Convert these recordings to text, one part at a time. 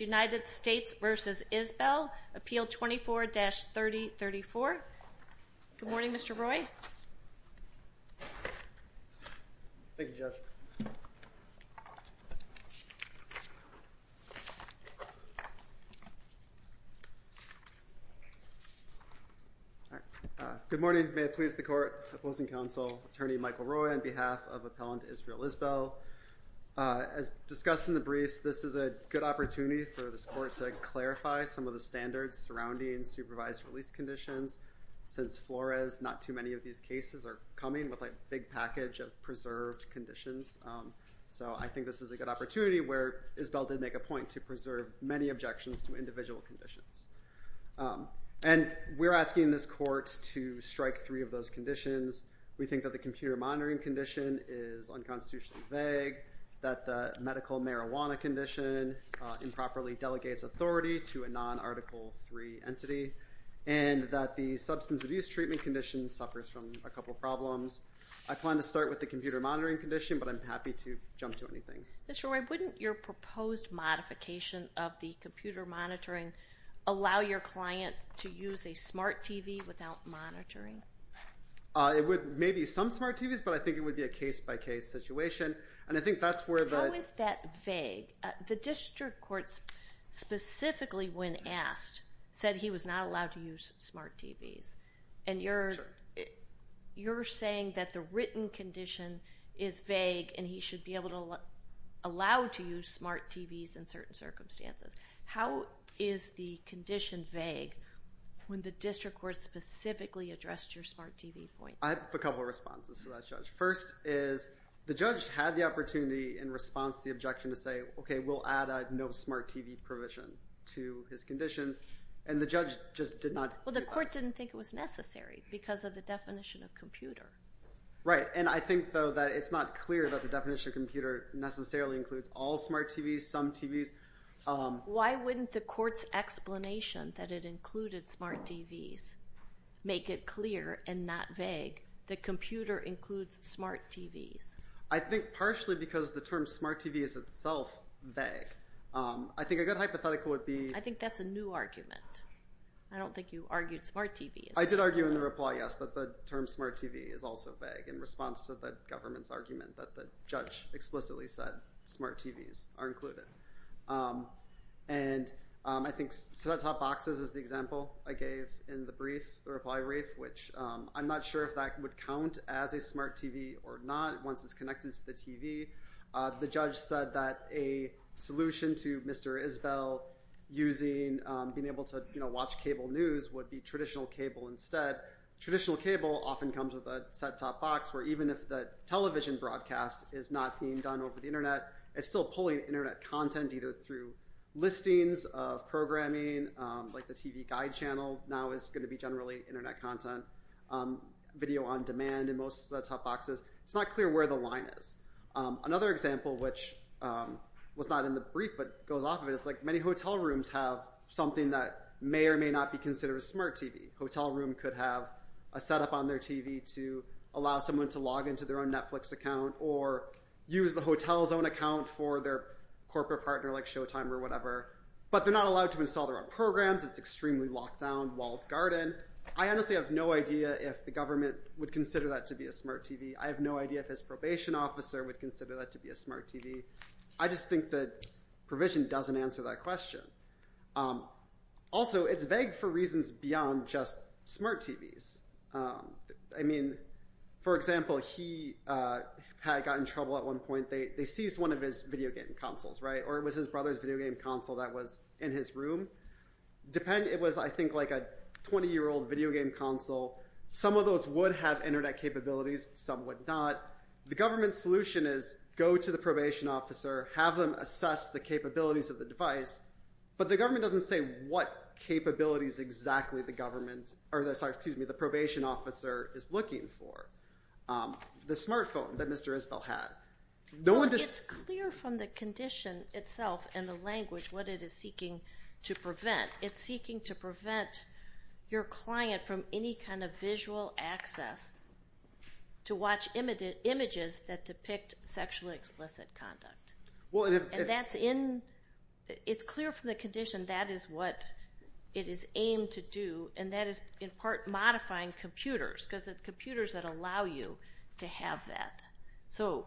United States v. Isbell Appeal 24-3034. Good morning, Mr. Roy. Thank you, Judge. Good morning. May it please the Court. Opposing counsel, Attorney Michael Roy on behalf of Appellant Israel Isbell. As discussed in the briefs, this is a good opportunity for this Court to clarify some of the standards surrounding supervised release conditions. Since Flores, not too many of these cases are coming with a big package of preserved conditions. So I think this is a good opportunity where Isbell did make a point to preserve many objections to individual conditions. And we're asking this Court to strike three of those conditions. We think that the computer monitoring condition is unconstitutionally vague, that the medical marijuana condition improperly delegates authority to a non-Article III entity, and that the substance abuse treatment condition suffers from a couple problems. I plan to start with the computer monitoring condition, but I'm happy to jump to anything. Mr. Roy, wouldn't your proposed modification of the computer monitoring allow your client to use a smart TV without monitoring? It would, maybe some smart TVs, but I think it would be a case-by-case situation. How is that vague? The district courts specifically, when asked, said he was not allowed to use smart TVs. And you're saying that the written condition is vague and he should be able to allow to use smart TVs in certain circumstances. How is the condition vague when the district courts specifically addressed your smart TV point? I have a couple of responses to that, Judge. First is the judge had the opportunity in response to the objection to say, okay, we'll add a no smart TV provision to his conditions. And the judge just did not do that. Well, the court didn't think it was necessary because of the definition of computer. Right, and I think, though, that it's not clear that the definition of computer necessarily includes all smart TVs, some TVs. Why wouldn't the court's explanation that it included smart TVs make it clear and not vague that computer includes smart TVs? I think partially because the term smart TV is itself vague. I think a good hypothetical would be... I think that's a new argument. I don't think you argued smart TV. I did argue in the reply, yes, that the term smart TV is also vague in response to the government's argument that the judge explicitly said smart TVs are included. And I think set-top boxes is the example I gave in the brief, the reply brief, which I'm not sure if that would count as a smart TV or not once it's connected to the TV. The judge said that a solution to Mr. Isbell using, being able to watch cable news would be traditional cable instead. Traditional cable often comes with a set-top box where even if the television broadcast is not being done over the Internet, it's still pulling Internet content either through listings of programming, like the TV Guide channel, now is going to be generally Internet content, video on demand in most set-top boxes. It's not clear where the line is. Another example, which was not in the brief but goes off of it, is many hotel rooms have something that may or may not be considered a smart TV. A hotel room could have a setup on their TV to allow someone to log into their own Netflix account or use the hotel's own account for their corporate partner like Showtime or whatever, but they're not allowed to install their own programs. It's extremely locked down, walled garden. I honestly have no idea if the government would consider that to be a smart TV. I have no idea if his probation officer would consider that to be a smart TV. I just think that provision doesn't answer that question. Also, it's vague for reasons beyond just smart TVs. I mean, for example, he had gotten in trouble at one point. They seized one of his video game consoles, right, or it was his brother's video game console that was in his room. It was, I think, like a 20-year-old video game console. Some of those would have Internet capabilities. Some would not. The government's solution is go to the probation officer, have them assess the capabilities of the device, but the government doesn't say what capabilities exactly the probation officer is looking for. The smartphone that Mr. Isbell had. It's clear from the condition itself and the language what it is seeking to prevent. It's seeking to prevent your client from any kind of visual access to watch images that depict sexually explicit conduct. It's clear from the condition that is what it is aimed to do, and that is in part modifying computers because it's computers that allow you to have that. So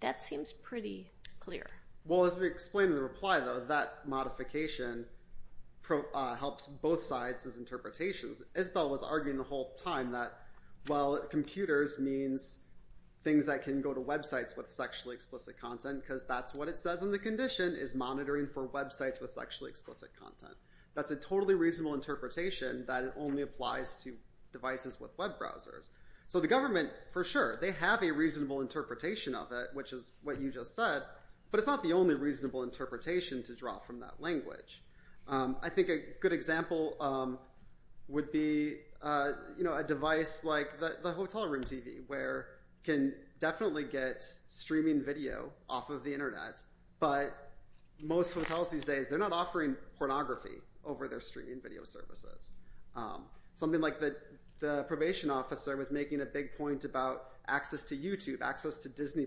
that seems pretty clear. Well, as we explained in the reply, though, that modification helps both sides as interpretations. Isbell was arguing the whole time that, well, computers means things that can go to websites with sexually explicit content because that's what it says in the condition is monitoring for websites with sexually explicit content. That's a totally reasonable interpretation that it only applies to devices with web browsers. So the government, for sure, they have a reasonable interpretation of it, which is what you just said, but it's not the only reasonable interpretation to draw from that language. I think a good example would be a device like the hotel room TV where you can definitely get streaming video off of the Internet, but most hotels these days, they're not offering pornography over their streaming video services. Something like the probation officer was making a big point about access to YouTube, access to Disney+.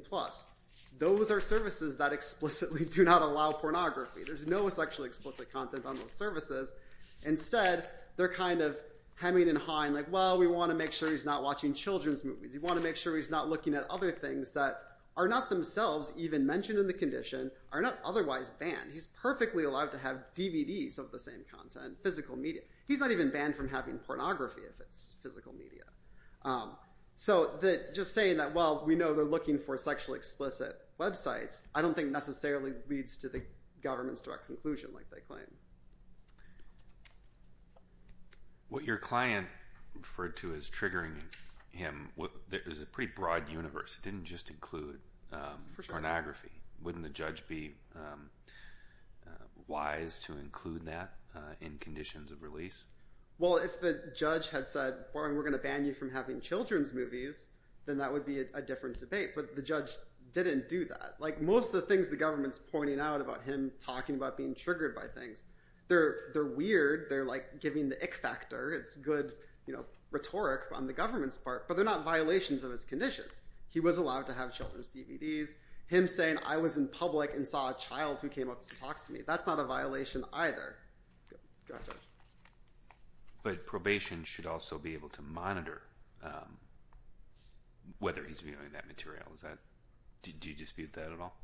Those are services that explicitly do not allow pornography. There's no sexually explicit content on those services. Instead, they're kind of hemming and hawing like, well, we want to make sure he's not watching children's movies. We want to make sure he's not looking at other things that are not themselves even mentioned in the condition, are not otherwise banned. He's perfectly allowed to have DVDs of the same content, physical media. He's not even banned from having pornography if it's physical media. So just saying that, well, we know they're looking for sexually explicit websites, I don't think necessarily leads to the government's direct conclusion like they claim. What your client referred to as triggering him, there's a pretty broad universe. It didn't just include pornography. Wouldn't the judge be wise to include that in conditions of release? Well, if the judge had said, we're going to ban you from having children's movies, then that would be a different debate. But the judge didn't do that. Like most of the things the government's pointing out about him talking about being triggered by things, they're weird. They're like giving the ick factor. It's good rhetoric on the government's part, but they're not violations of his conditions. He was allowed to have children's DVDs. Him saying, I was in public and saw a child who came up to talk to me, that's not a violation either. But probation should also be able to monitor whether he's viewing that material. Do you dispute that at all?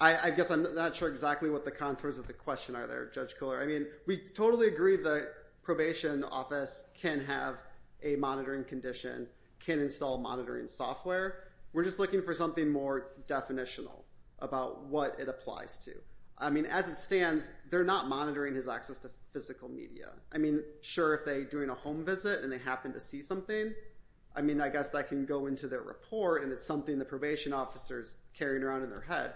I guess I'm not sure exactly what the contours of the question are there, Judge Koehler. I mean, we totally agree the probation office can have a monitoring condition, can install monitoring software. We're just looking for something more definitional about what it applies to. I mean, as it stands, they're not monitoring his access to physical media. I mean, sure, if they're doing a home visit and they happen to see something, I mean, I guess that can go into their report, and it's something the probation officer's carrying around in their head.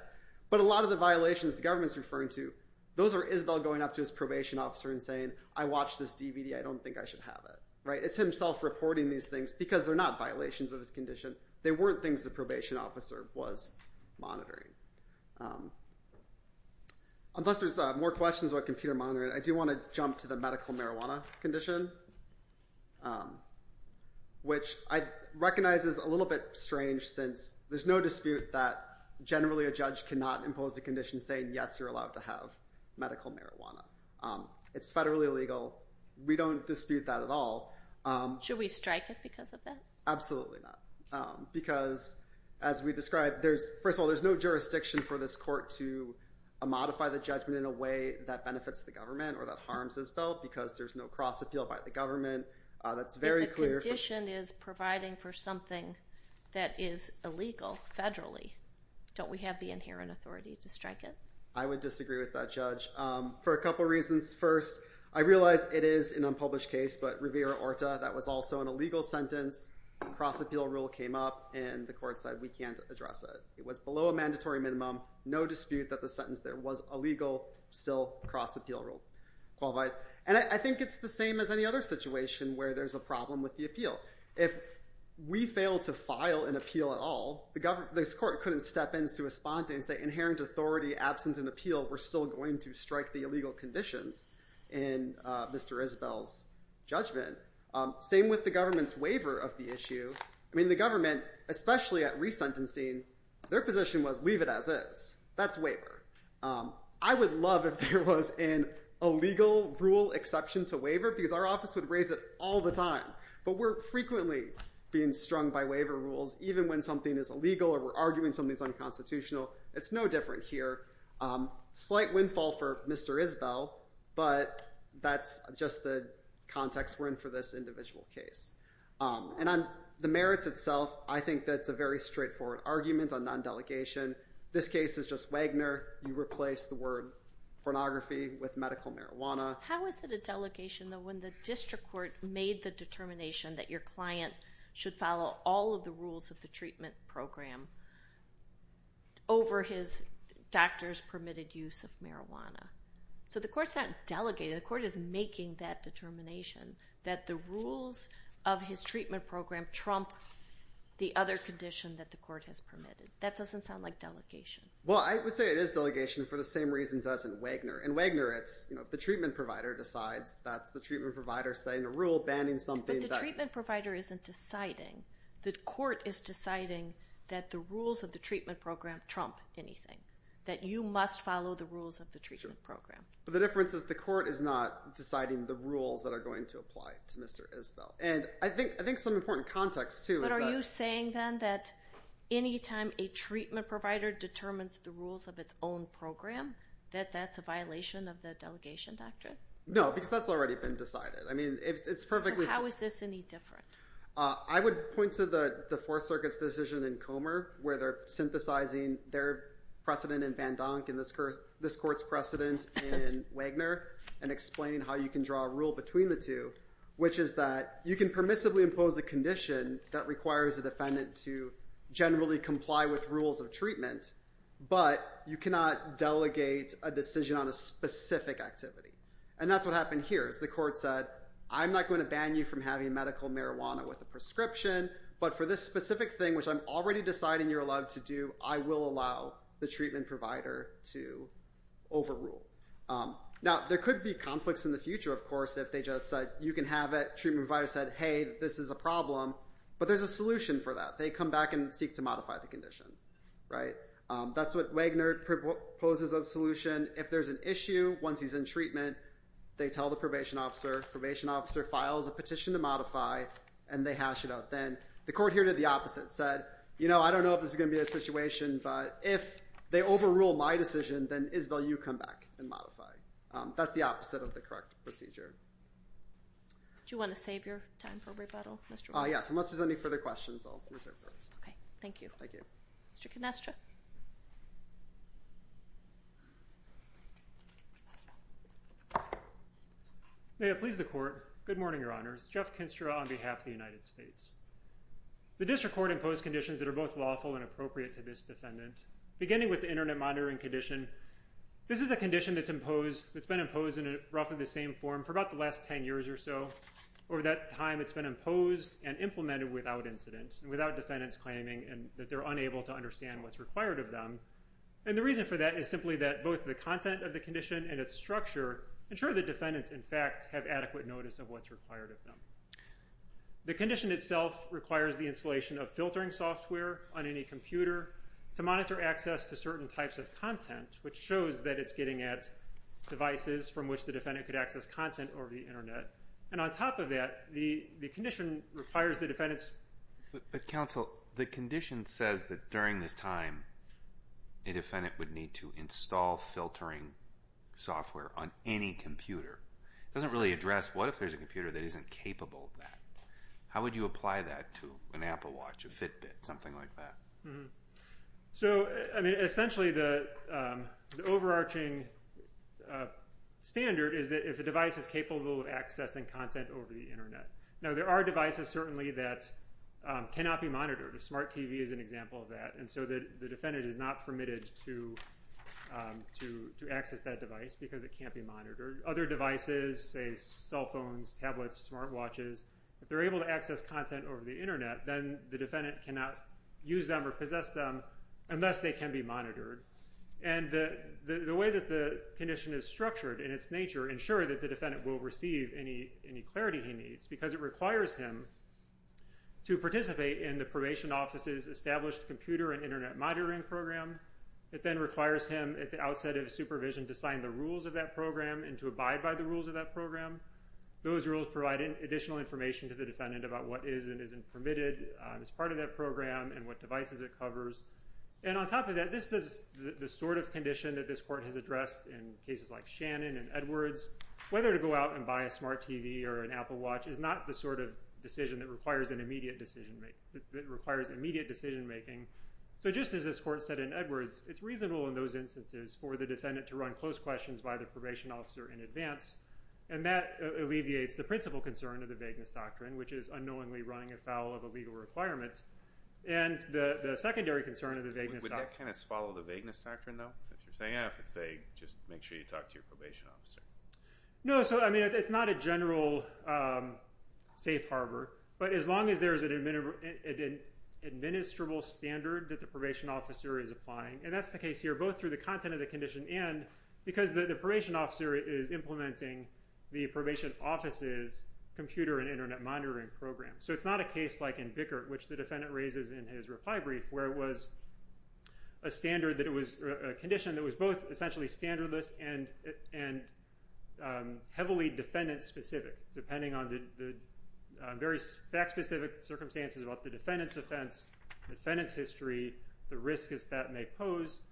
But a lot of the violations the government's referring to, those are Isabel going up to his probation officer and saying, I watched this DVD. I don't think I should have it. It's himself reporting these things because they're not violations of his condition. They weren't things the probation officer was monitoring. Unless there's more questions about computer monitoring, I do want to jump to the medical marijuana condition, which I recognize is a little bit strange since there's no dispute that, generally, a judge cannot impose a condition saying, yes, you're allowed to have medical marijuana. It's federally illegal. We don't dispute that at all. Should we strike it because of that? Absolutely not because, as we described, first of all, there's no jurisdiction for this court to modify the judgment in a way that benefits the government or that harms Isabel because there's no cross-appeal by the government. That's very clear. If a condition is providing for something that is illegal federally, don't we have the inherent authority to strike it? I would disagree with that, Judge. For a couple reasons. First, I realize it is an unpublished case, but Rivera-Orta, that was also an illegal sentence, cross-appeal rule came up, and the court said we can't address it. It was below a mandatory minimum, no dispute that the sentence there was illegal, still cross-appeal rule qualified. And I think it's the same as any other situation where there's a problem with the appeal. If we fail to file an appeal at all, this court couldn't step in to respond to it and say, inherent authority, absence in appeal, we're still going to strike the illegal conditions in Mr. Isabel's judgment. Same with the government's waiver of the issue. I mean, the government, especially at resentencing, their position was leave it as is. That's waiver. I would love if there was an illegal rule exception to waiver because our office would raise it all the time. But we're frequently being strung by waiver rules, even when something is illegal or we're arguing something's unconstitutional. It's no different here. Slight windfall for Mr. Isabel, but that's just the context we're in for this individual case. And on the merits itself, I think that's a very straightforward argument on non-delegation. This case is just Wagner. You replace the word pornography with medical marijuana. How is it a delegation, though, when the district court made the determination that your client should follow all of the rules of the treatment program over his doctor's permitted use of marijuana? So the court's not delegating. The court is making that determination that the rules of his treatment program trump the other condition that the court has permitted. That doesn't sound like delegation. Well, I would say it is delegation for the same reasons as in Wagner. In Wagner, it's the treatment provider decides. That's the treatment provider setting a rule, banning something. But the treatment provider isn't deciding. The court is deciding that the rules of the treatment program trump anything, that you must follow the rules of the treatment program. But the difference is the court is not deciding the rules that are going to apply to Mr. Isabel. And I think some important context, too, is that— But are you saying, then, that any time a treatment provider determines the rules of its own program, that that's a violation of the delegation doctrine? No, because that's already been decided. I mean, it's perfectly— So how is this any different? I would point to the Fourth Circuit's decision in Comer, where they're synthesizing their precedent in Van Donk and this court's precedent in Wagner and explaining how you can draw a rule between the two, which is that you can permissibly impose a condition that requires a defendant to generally comply with rules of treatment, but you cannot delegate a decision on a specific activity. And that's what happened here is the court said, I'm not going to ban you from having medical marijuana with a prescription, but for this specific thing, which I'm already deciding you're allowed to do, I will allow the treatment provider to overrule. Now, there could be conflicts in the future, of course, if they just said, you can have it, treatment provider said, hey, this is a problem, but there's a solution for that. They come back and seek to modify the condition, right? That's what Wagner proposes as a solution. If there's an issue once he's in treatment, they tell the probation officer, probation officer files a petition to modify, and they hash it out then. The court here did the opposite, said, you know, I don't know if this is going to be a situation, but if they overrule my decision, then, Isabel, you come back and modify. That's the opposite of the correct procedure. Do you want to save your time for rebuttal, Mr. Wagner? Yes, unless there's any further questions, I'll reserve those. Okay, thank you. Thank you. Mr. Canestra? May it please the court. Good morning, Your Honors. Jeff Canestra on behalf of the United States. The district court imposed conditions that are both lawful and appropriate to this defendant. Beginning with the internet monitoring condition, this is a condition that's been imposed in roughly the same form for about the last ten years or so. Over that time, it's been imposed and implemented without incident and without defendants claiming that they're unable to understand what's required of them. And the reason for that is simply that both the content of the condition and its structure ensure that defendants, in fact, have adequate notice of what's required of them. The condition itself requires the installation of filtering software on any computer to monitor access to certain types of content, which shows that it's getting at devices from which the defendant could access content over the internet. And on top of that, the condition requires the defendant's... But, counsel, the condition says that during this time, a defendant would need to install filtering software on any computer. It doesn't really address what if there's a computer that isn't capable of that. How would you apply that to an Apple Watch, a Fitbit, something like that? Essentially, the overarching standard is that if a device is capable of accessing content over the internet. Now, there are devices, certainly, that cannot be monitored. A smart TV is an example of that. And so the defendant is not permitted to access that device because it can't be monitored. Other devices, say cell phones, tablets, smart watches, if they're able to access content over the internet, then the defendant cannot use them or possess them unless they can be monitored. And the way that the condition is structured in its nature ensure that the defendant will receive any clarity he needs because it requires him to participate in the probation office's established computer and internet monitoring program. It then requires him, at the outset of supervision, to sign the rules of that program and to abide by the rules of that program. Those rules provide additional information to the defendant about what is and isn't permitted as part of that program and what devices it covers. And on top of that, this is the sort of condition that this court has addressed in cases like Shannon and Edwards. Whether to go out and buy a smart TV or an Apple Watch is not the sort of decision that requires immediate decision making. So just as this court said in Edwards, it's reasonable in those instances for the defendant to run close questions by the probation officer in advance, and that alleviates the principal concern of the vagueness doctrine, which is unknowingly running afoul of a legal requirement, and the secondary concern of the vagueness doctrine. Would that kind of follow the vagueness doctrine, though? If you're saying, yeah, if it's vague, just make sure you talk to your probation officer. No, so, I mean, it's not a general safe harbor, but as long as there's an administrable standard that the probation officer is applying, and that's the case here both through the content of the condition and because the probation officer is implementing the probation office's computer and Internet monitoring program. So it's not a case like in Bickert, which the defendant raises in his reply brief, where it was a standard that it was a condition that was both essentially standardless and heavily defendant-specific, depending on the various fact-specific circumstances about the defendant's offense, defendant's history, the risk that may pose,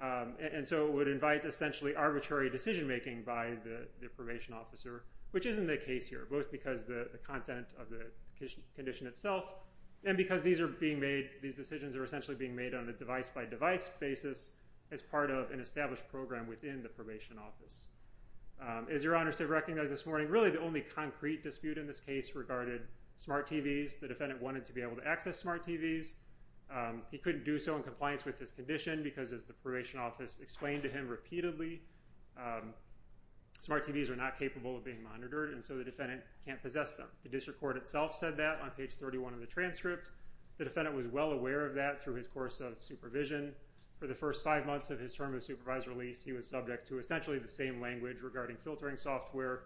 and so it would invite essentially arbitrary decision-making by the probation officer, which isn't the case here, both because of the content of the condition itself and because these decisions are essentially being made on a device-by-device basis as part of an established program within the probation office. As your honors have recognized this morning, really the only concrete dispute in this case regarded smart TVs. The defendant wanted to be able to access smart TVs. He couldn't do so in compliance with this condition because, as the probation office explained to him repeatedly, smart TVs are not capable of being monitored, and so the defendant can't possess them. The district court itself said that on page 31 of the transcript. The defendant was well aware of that through his course of supervision. For the first five months of his term of supervised release, he was subject to essentially the same language regarding filtering software.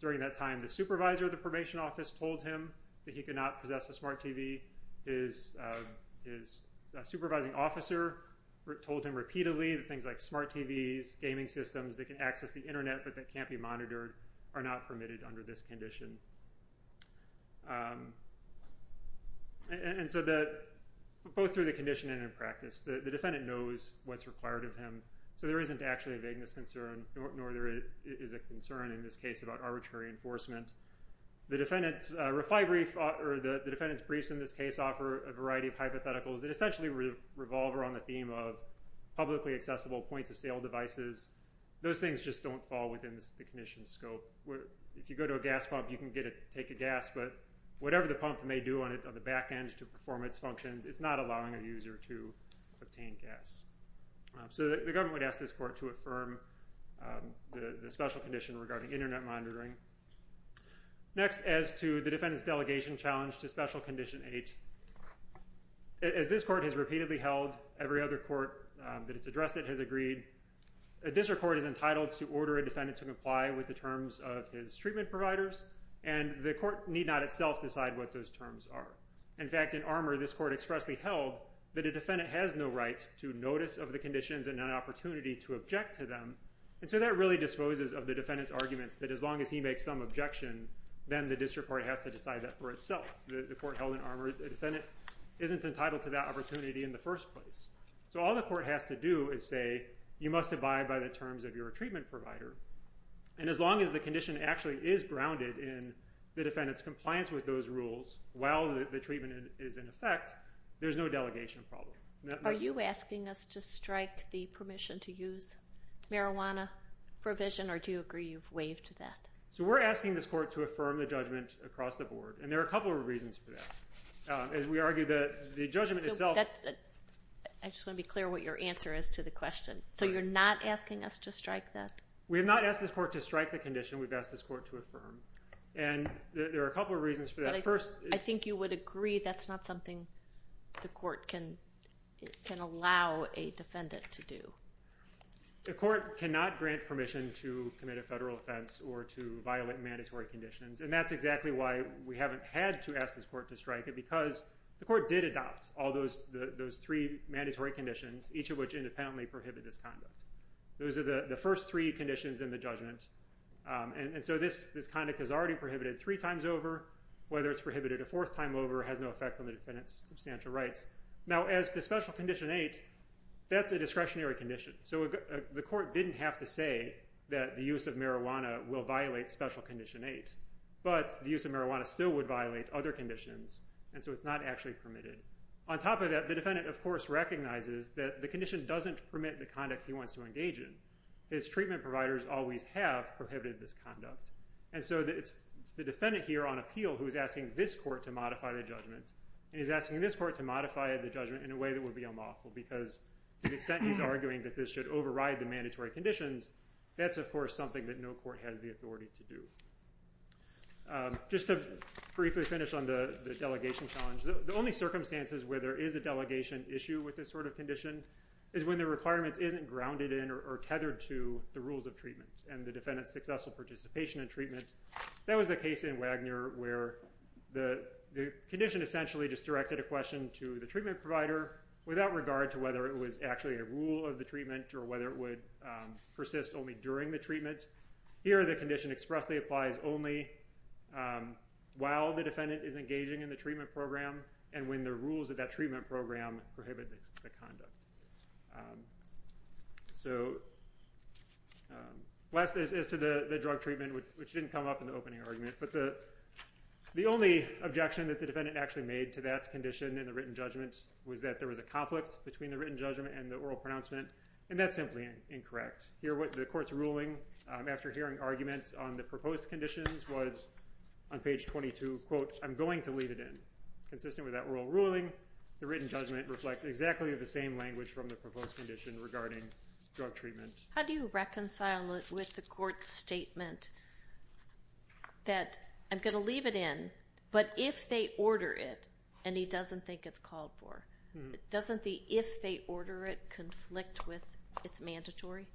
During that time, the supervisor of the probation office told him that he could not possess a smart TV. His supervising officer told him repeatedly that things like smart TVs, gaming systems that can access the Internet but that can't be monitored are not permitted under this condition. Both through the condition and in practice, the defendant knows what's required of him, so there isn't actually a vagueness concern, nor is there a concern in this case about arbitrary enforcement. The defendant's briefs in this case offer a variety of hypotheticals that essentially revolve around the theme of publicly accessible points-of-sale devices. Those things just don't fall within the condition's scope. If you go to a gas pump, you can take a gas, but whatever the pump may do on the back end to perform its functions, it's not allowing a user to obtain gas. So the government would ask this court to affirm the special condition regarding Internet monitoring. Next, as to the defendant's delegation challenge to Special Condition 8, as this court has repeatedly held, every other court that has addressed it has agreed, a district court is entitled to order a defendant to comply with the terms of his treatment providers, and the court need not itself decide what those terms are. In fact, in Armour, this court expressly held that a defendant has no right to notice of the conditions and an opportunity to object to them, and so that really disposes of the defendant's argument that as long as he makes some objection, then the district court has to decide that for itself. The court held in Armour, the defendant isn't entitled to that opportunity in the first place. So all the court has to do is say, you must abide by the terms of your treatment provider, and as long as the condition actually is grounded in the defendant's compliance with those rules while the treatment is in effect, there's no delegation problem. Are you asking us to strike the permission to use marijuana provision, or do you agree you've waived that? So we're asking this court to affirm the judgment across the board, and there are a couple of reasons for that. We argue that the judgment itself... I just want to be clear what your answer is to the question. So you're not asking us to strike that? We have not asked this court to strike the condition. We've asked this court to affirm, and there are a couple of reasons for that. I think you would agree that's not something the court can allow a defendant to do. The court cannot grant permission to commit a federal offense or to violate mandatory conditions, and that's exactly why we haven't had to ask this court to strike it, because the court did adopt all those three mandatory conditions, each of which independently prohibit this conduct. Those are the first three conditions in the judgment, and so this conduct is already prohibited three times over. Whether it's prohibited a fourth time over has no effect on the defendant's substantial rights. Now, as to Special Condition 8, that's a discretionary condition. So the court didn't have to say that the use of marijuana will violate Special Condition 8, but the use of marijuana still would violate other conditions, and so it's not actually permitted. On top of that, the defendant, of course, recognizes that the condition doesn't permit the conduct he wants to engage in. His treatment providers always have prohibited this conduct, and so it's the defendant here on appeal who is asking this court to modify the judgment, and he's asking this court to modify the judgment in a way that would be unlawful, because to the extent he's arguing that this should override the mandatory conditions, that's, of course, something that no court has the authority to do. Just to briefly finish on the delegation challenge, the only circumstances where there is a delegation issue with this sort of condition is when the requirement isn't grounded in or tethered to the rules of treatment and the defendant's successful participation in treatment. That was the case in Wagner where the condition essentially just directed a question to the treatment provider without regard to whether it was actually a rule of the treatment or whether it would persist only during the treatment. Here the condition expressly applies only while the defendant is engaging in the treatment program and when the rules of that treatment program prohibit the conduct. Last is to the drug treatment, which didn't come up in the opening argument, but the only objection that the defendant actually made to that condition in the written judgment was that there was a conflict between the written judgment and the oral pronouncement, and that's simply incorrect. Here the court's ruling after hearing arguments on the proposed conditions was on page 22, quote, I'm going to leave it in. Consistent with that oral ruling, the written judgment reflects exactly the same language from the proposed condition regarding drug treatment. How do you reconcile it with the court's statement that I'm going to leave it in, but if they order it and he doesn't think it's called for, doesn't the if they order it conflict with it's mandatory?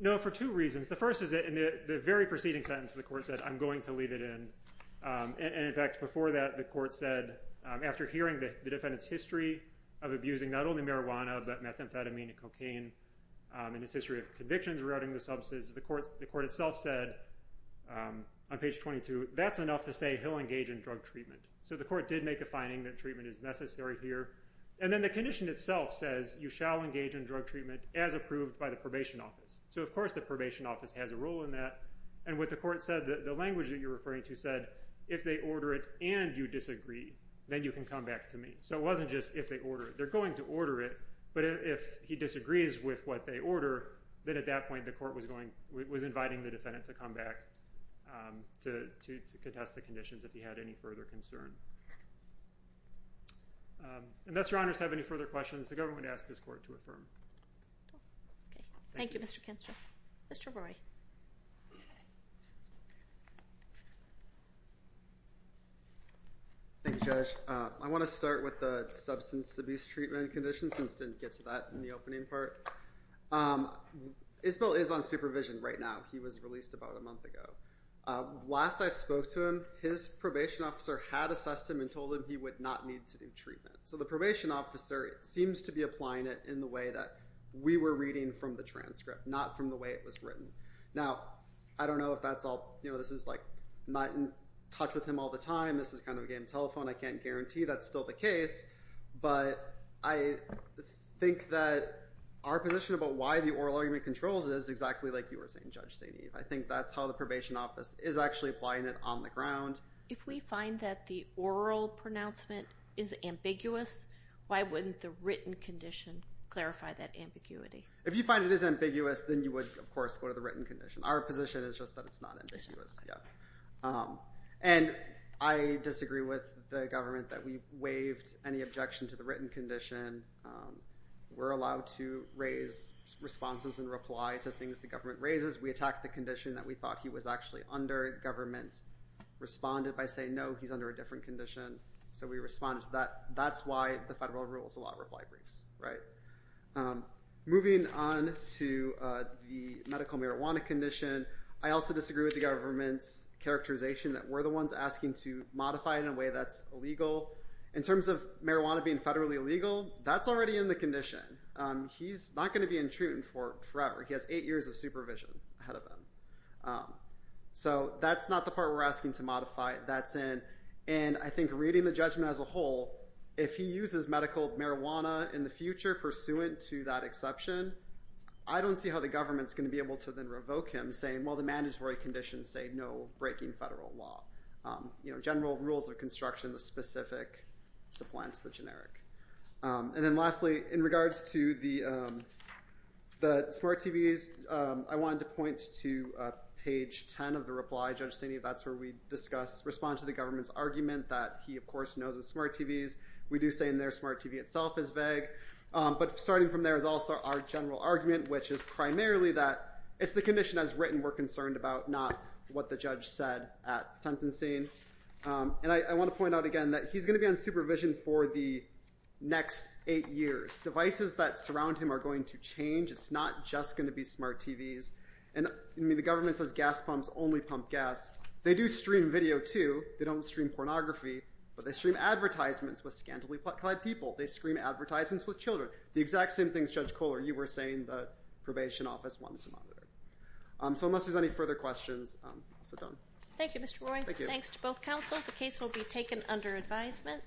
No, for two reasons. The first is that in the very preceding sentence the court said I'm going to leave it in, and in fact before that the court said after hearing the defendant's history of abusing not only marijuana but methamphetamine and cocaine and his history of convictions regarding the substance, the court itself said on page 22 that's enough to say he'll engage in drug treatment. So the court did make a finding that treatment is necessary here, and then the condition itself says you shall engage in drug treatment as approved by the probation office. So of course the probation office has a role in that, and what the court said, the language that you're referring to said if they order it and you disagree, then you can come back to me. So it wasn't just if they order it. They're going to order it, but if he disagrees with what they order, then at that point the court was inviting the defendant to come back to contest the conditions if he had any further concern. Unless your honors have any further questions, the government asked this court to affirm. Thank you, Mr. Kinster. Mr. Roy. Thank you, Judge. I want to start with the substance abuse treatment condition since we didn't get to that in the opening part. Isabel is on supervision right now. He was released about a month ago. Last I spoke to him, his probation officer had assessed him and told him he would not need to do treatment. So the probation officer seems to be applying it in the way that we were reading from the transcript, not from the way it was written. Now, I don't know if that's all. This is like not in touch with him all the time. This is kind of a game of telephone. I can't guarantee that's still the case, but I think that our position about why the oral argument controls is exactly like you were saying, Judge St. Eve. I think that's how the probation office is actually applying it on the ground. If we find that the oral pronouncement is ambiguous, why wouldn't the written condition clarify that ambiguity? If you find it is ambiguous, then you would, of course, go to the written condition. Our position is just that it's not ambiguous. And I disagree with the government that we waived any objection to the written condition. We're allowed to raise responses and reply to things the government raises. We attacked the condition that we thought he was actually under. The government responded by saying, no, he's under a different condition. So we responded to that. That's why the federal rules allow reply briefs. Moving on to the medical marijuana condition, I also disagree with the government's characterization that we're the ones asking to modify it in a way that's illegal. In terms of marijuana being federally illegal, that's already in the condition. He's not going to be in treatment for forever. He has eight years of supervision ahead of him. So that's not the part we're asking to modify. That's in. And I think reading the judgment as a whole, if he uses medical marijuana in the future pursuant to that exception, I don't see how the government's going to be able to then revoke him saying, well, the mandatory conditions say no breaking federal law. General rules of construction, the specific supplants, the generic. And then lastly, in regards to the smart TVs, I wanted to point to page 10 of the reply. Judge Staney, that's where we respond to the government's argument that he, of course, knows of smart TVs. We do say in there smart TV itself is vague. But starting from there is also our general argument, which is primarily that it's the condition as written we're concerned about, not what the judge said at sentencing. And I want to point out again that he's going to be on supervision for the next eight years. Devices that surround him are going to change. It's not just going to be smart TVs. And the government says gas pumps only pump gas. They do stream video, too. They don't stream pornography. But they stream advertisements with scantily clad people. They stream advertisements with children. The exact same things Judge Kohler, you were saying the probation office wanted to monitor. So unless there's any further questions, I'll sit down. Thank you, Mr. Roy. Thanks to both counsel. The case will be taken under advisement.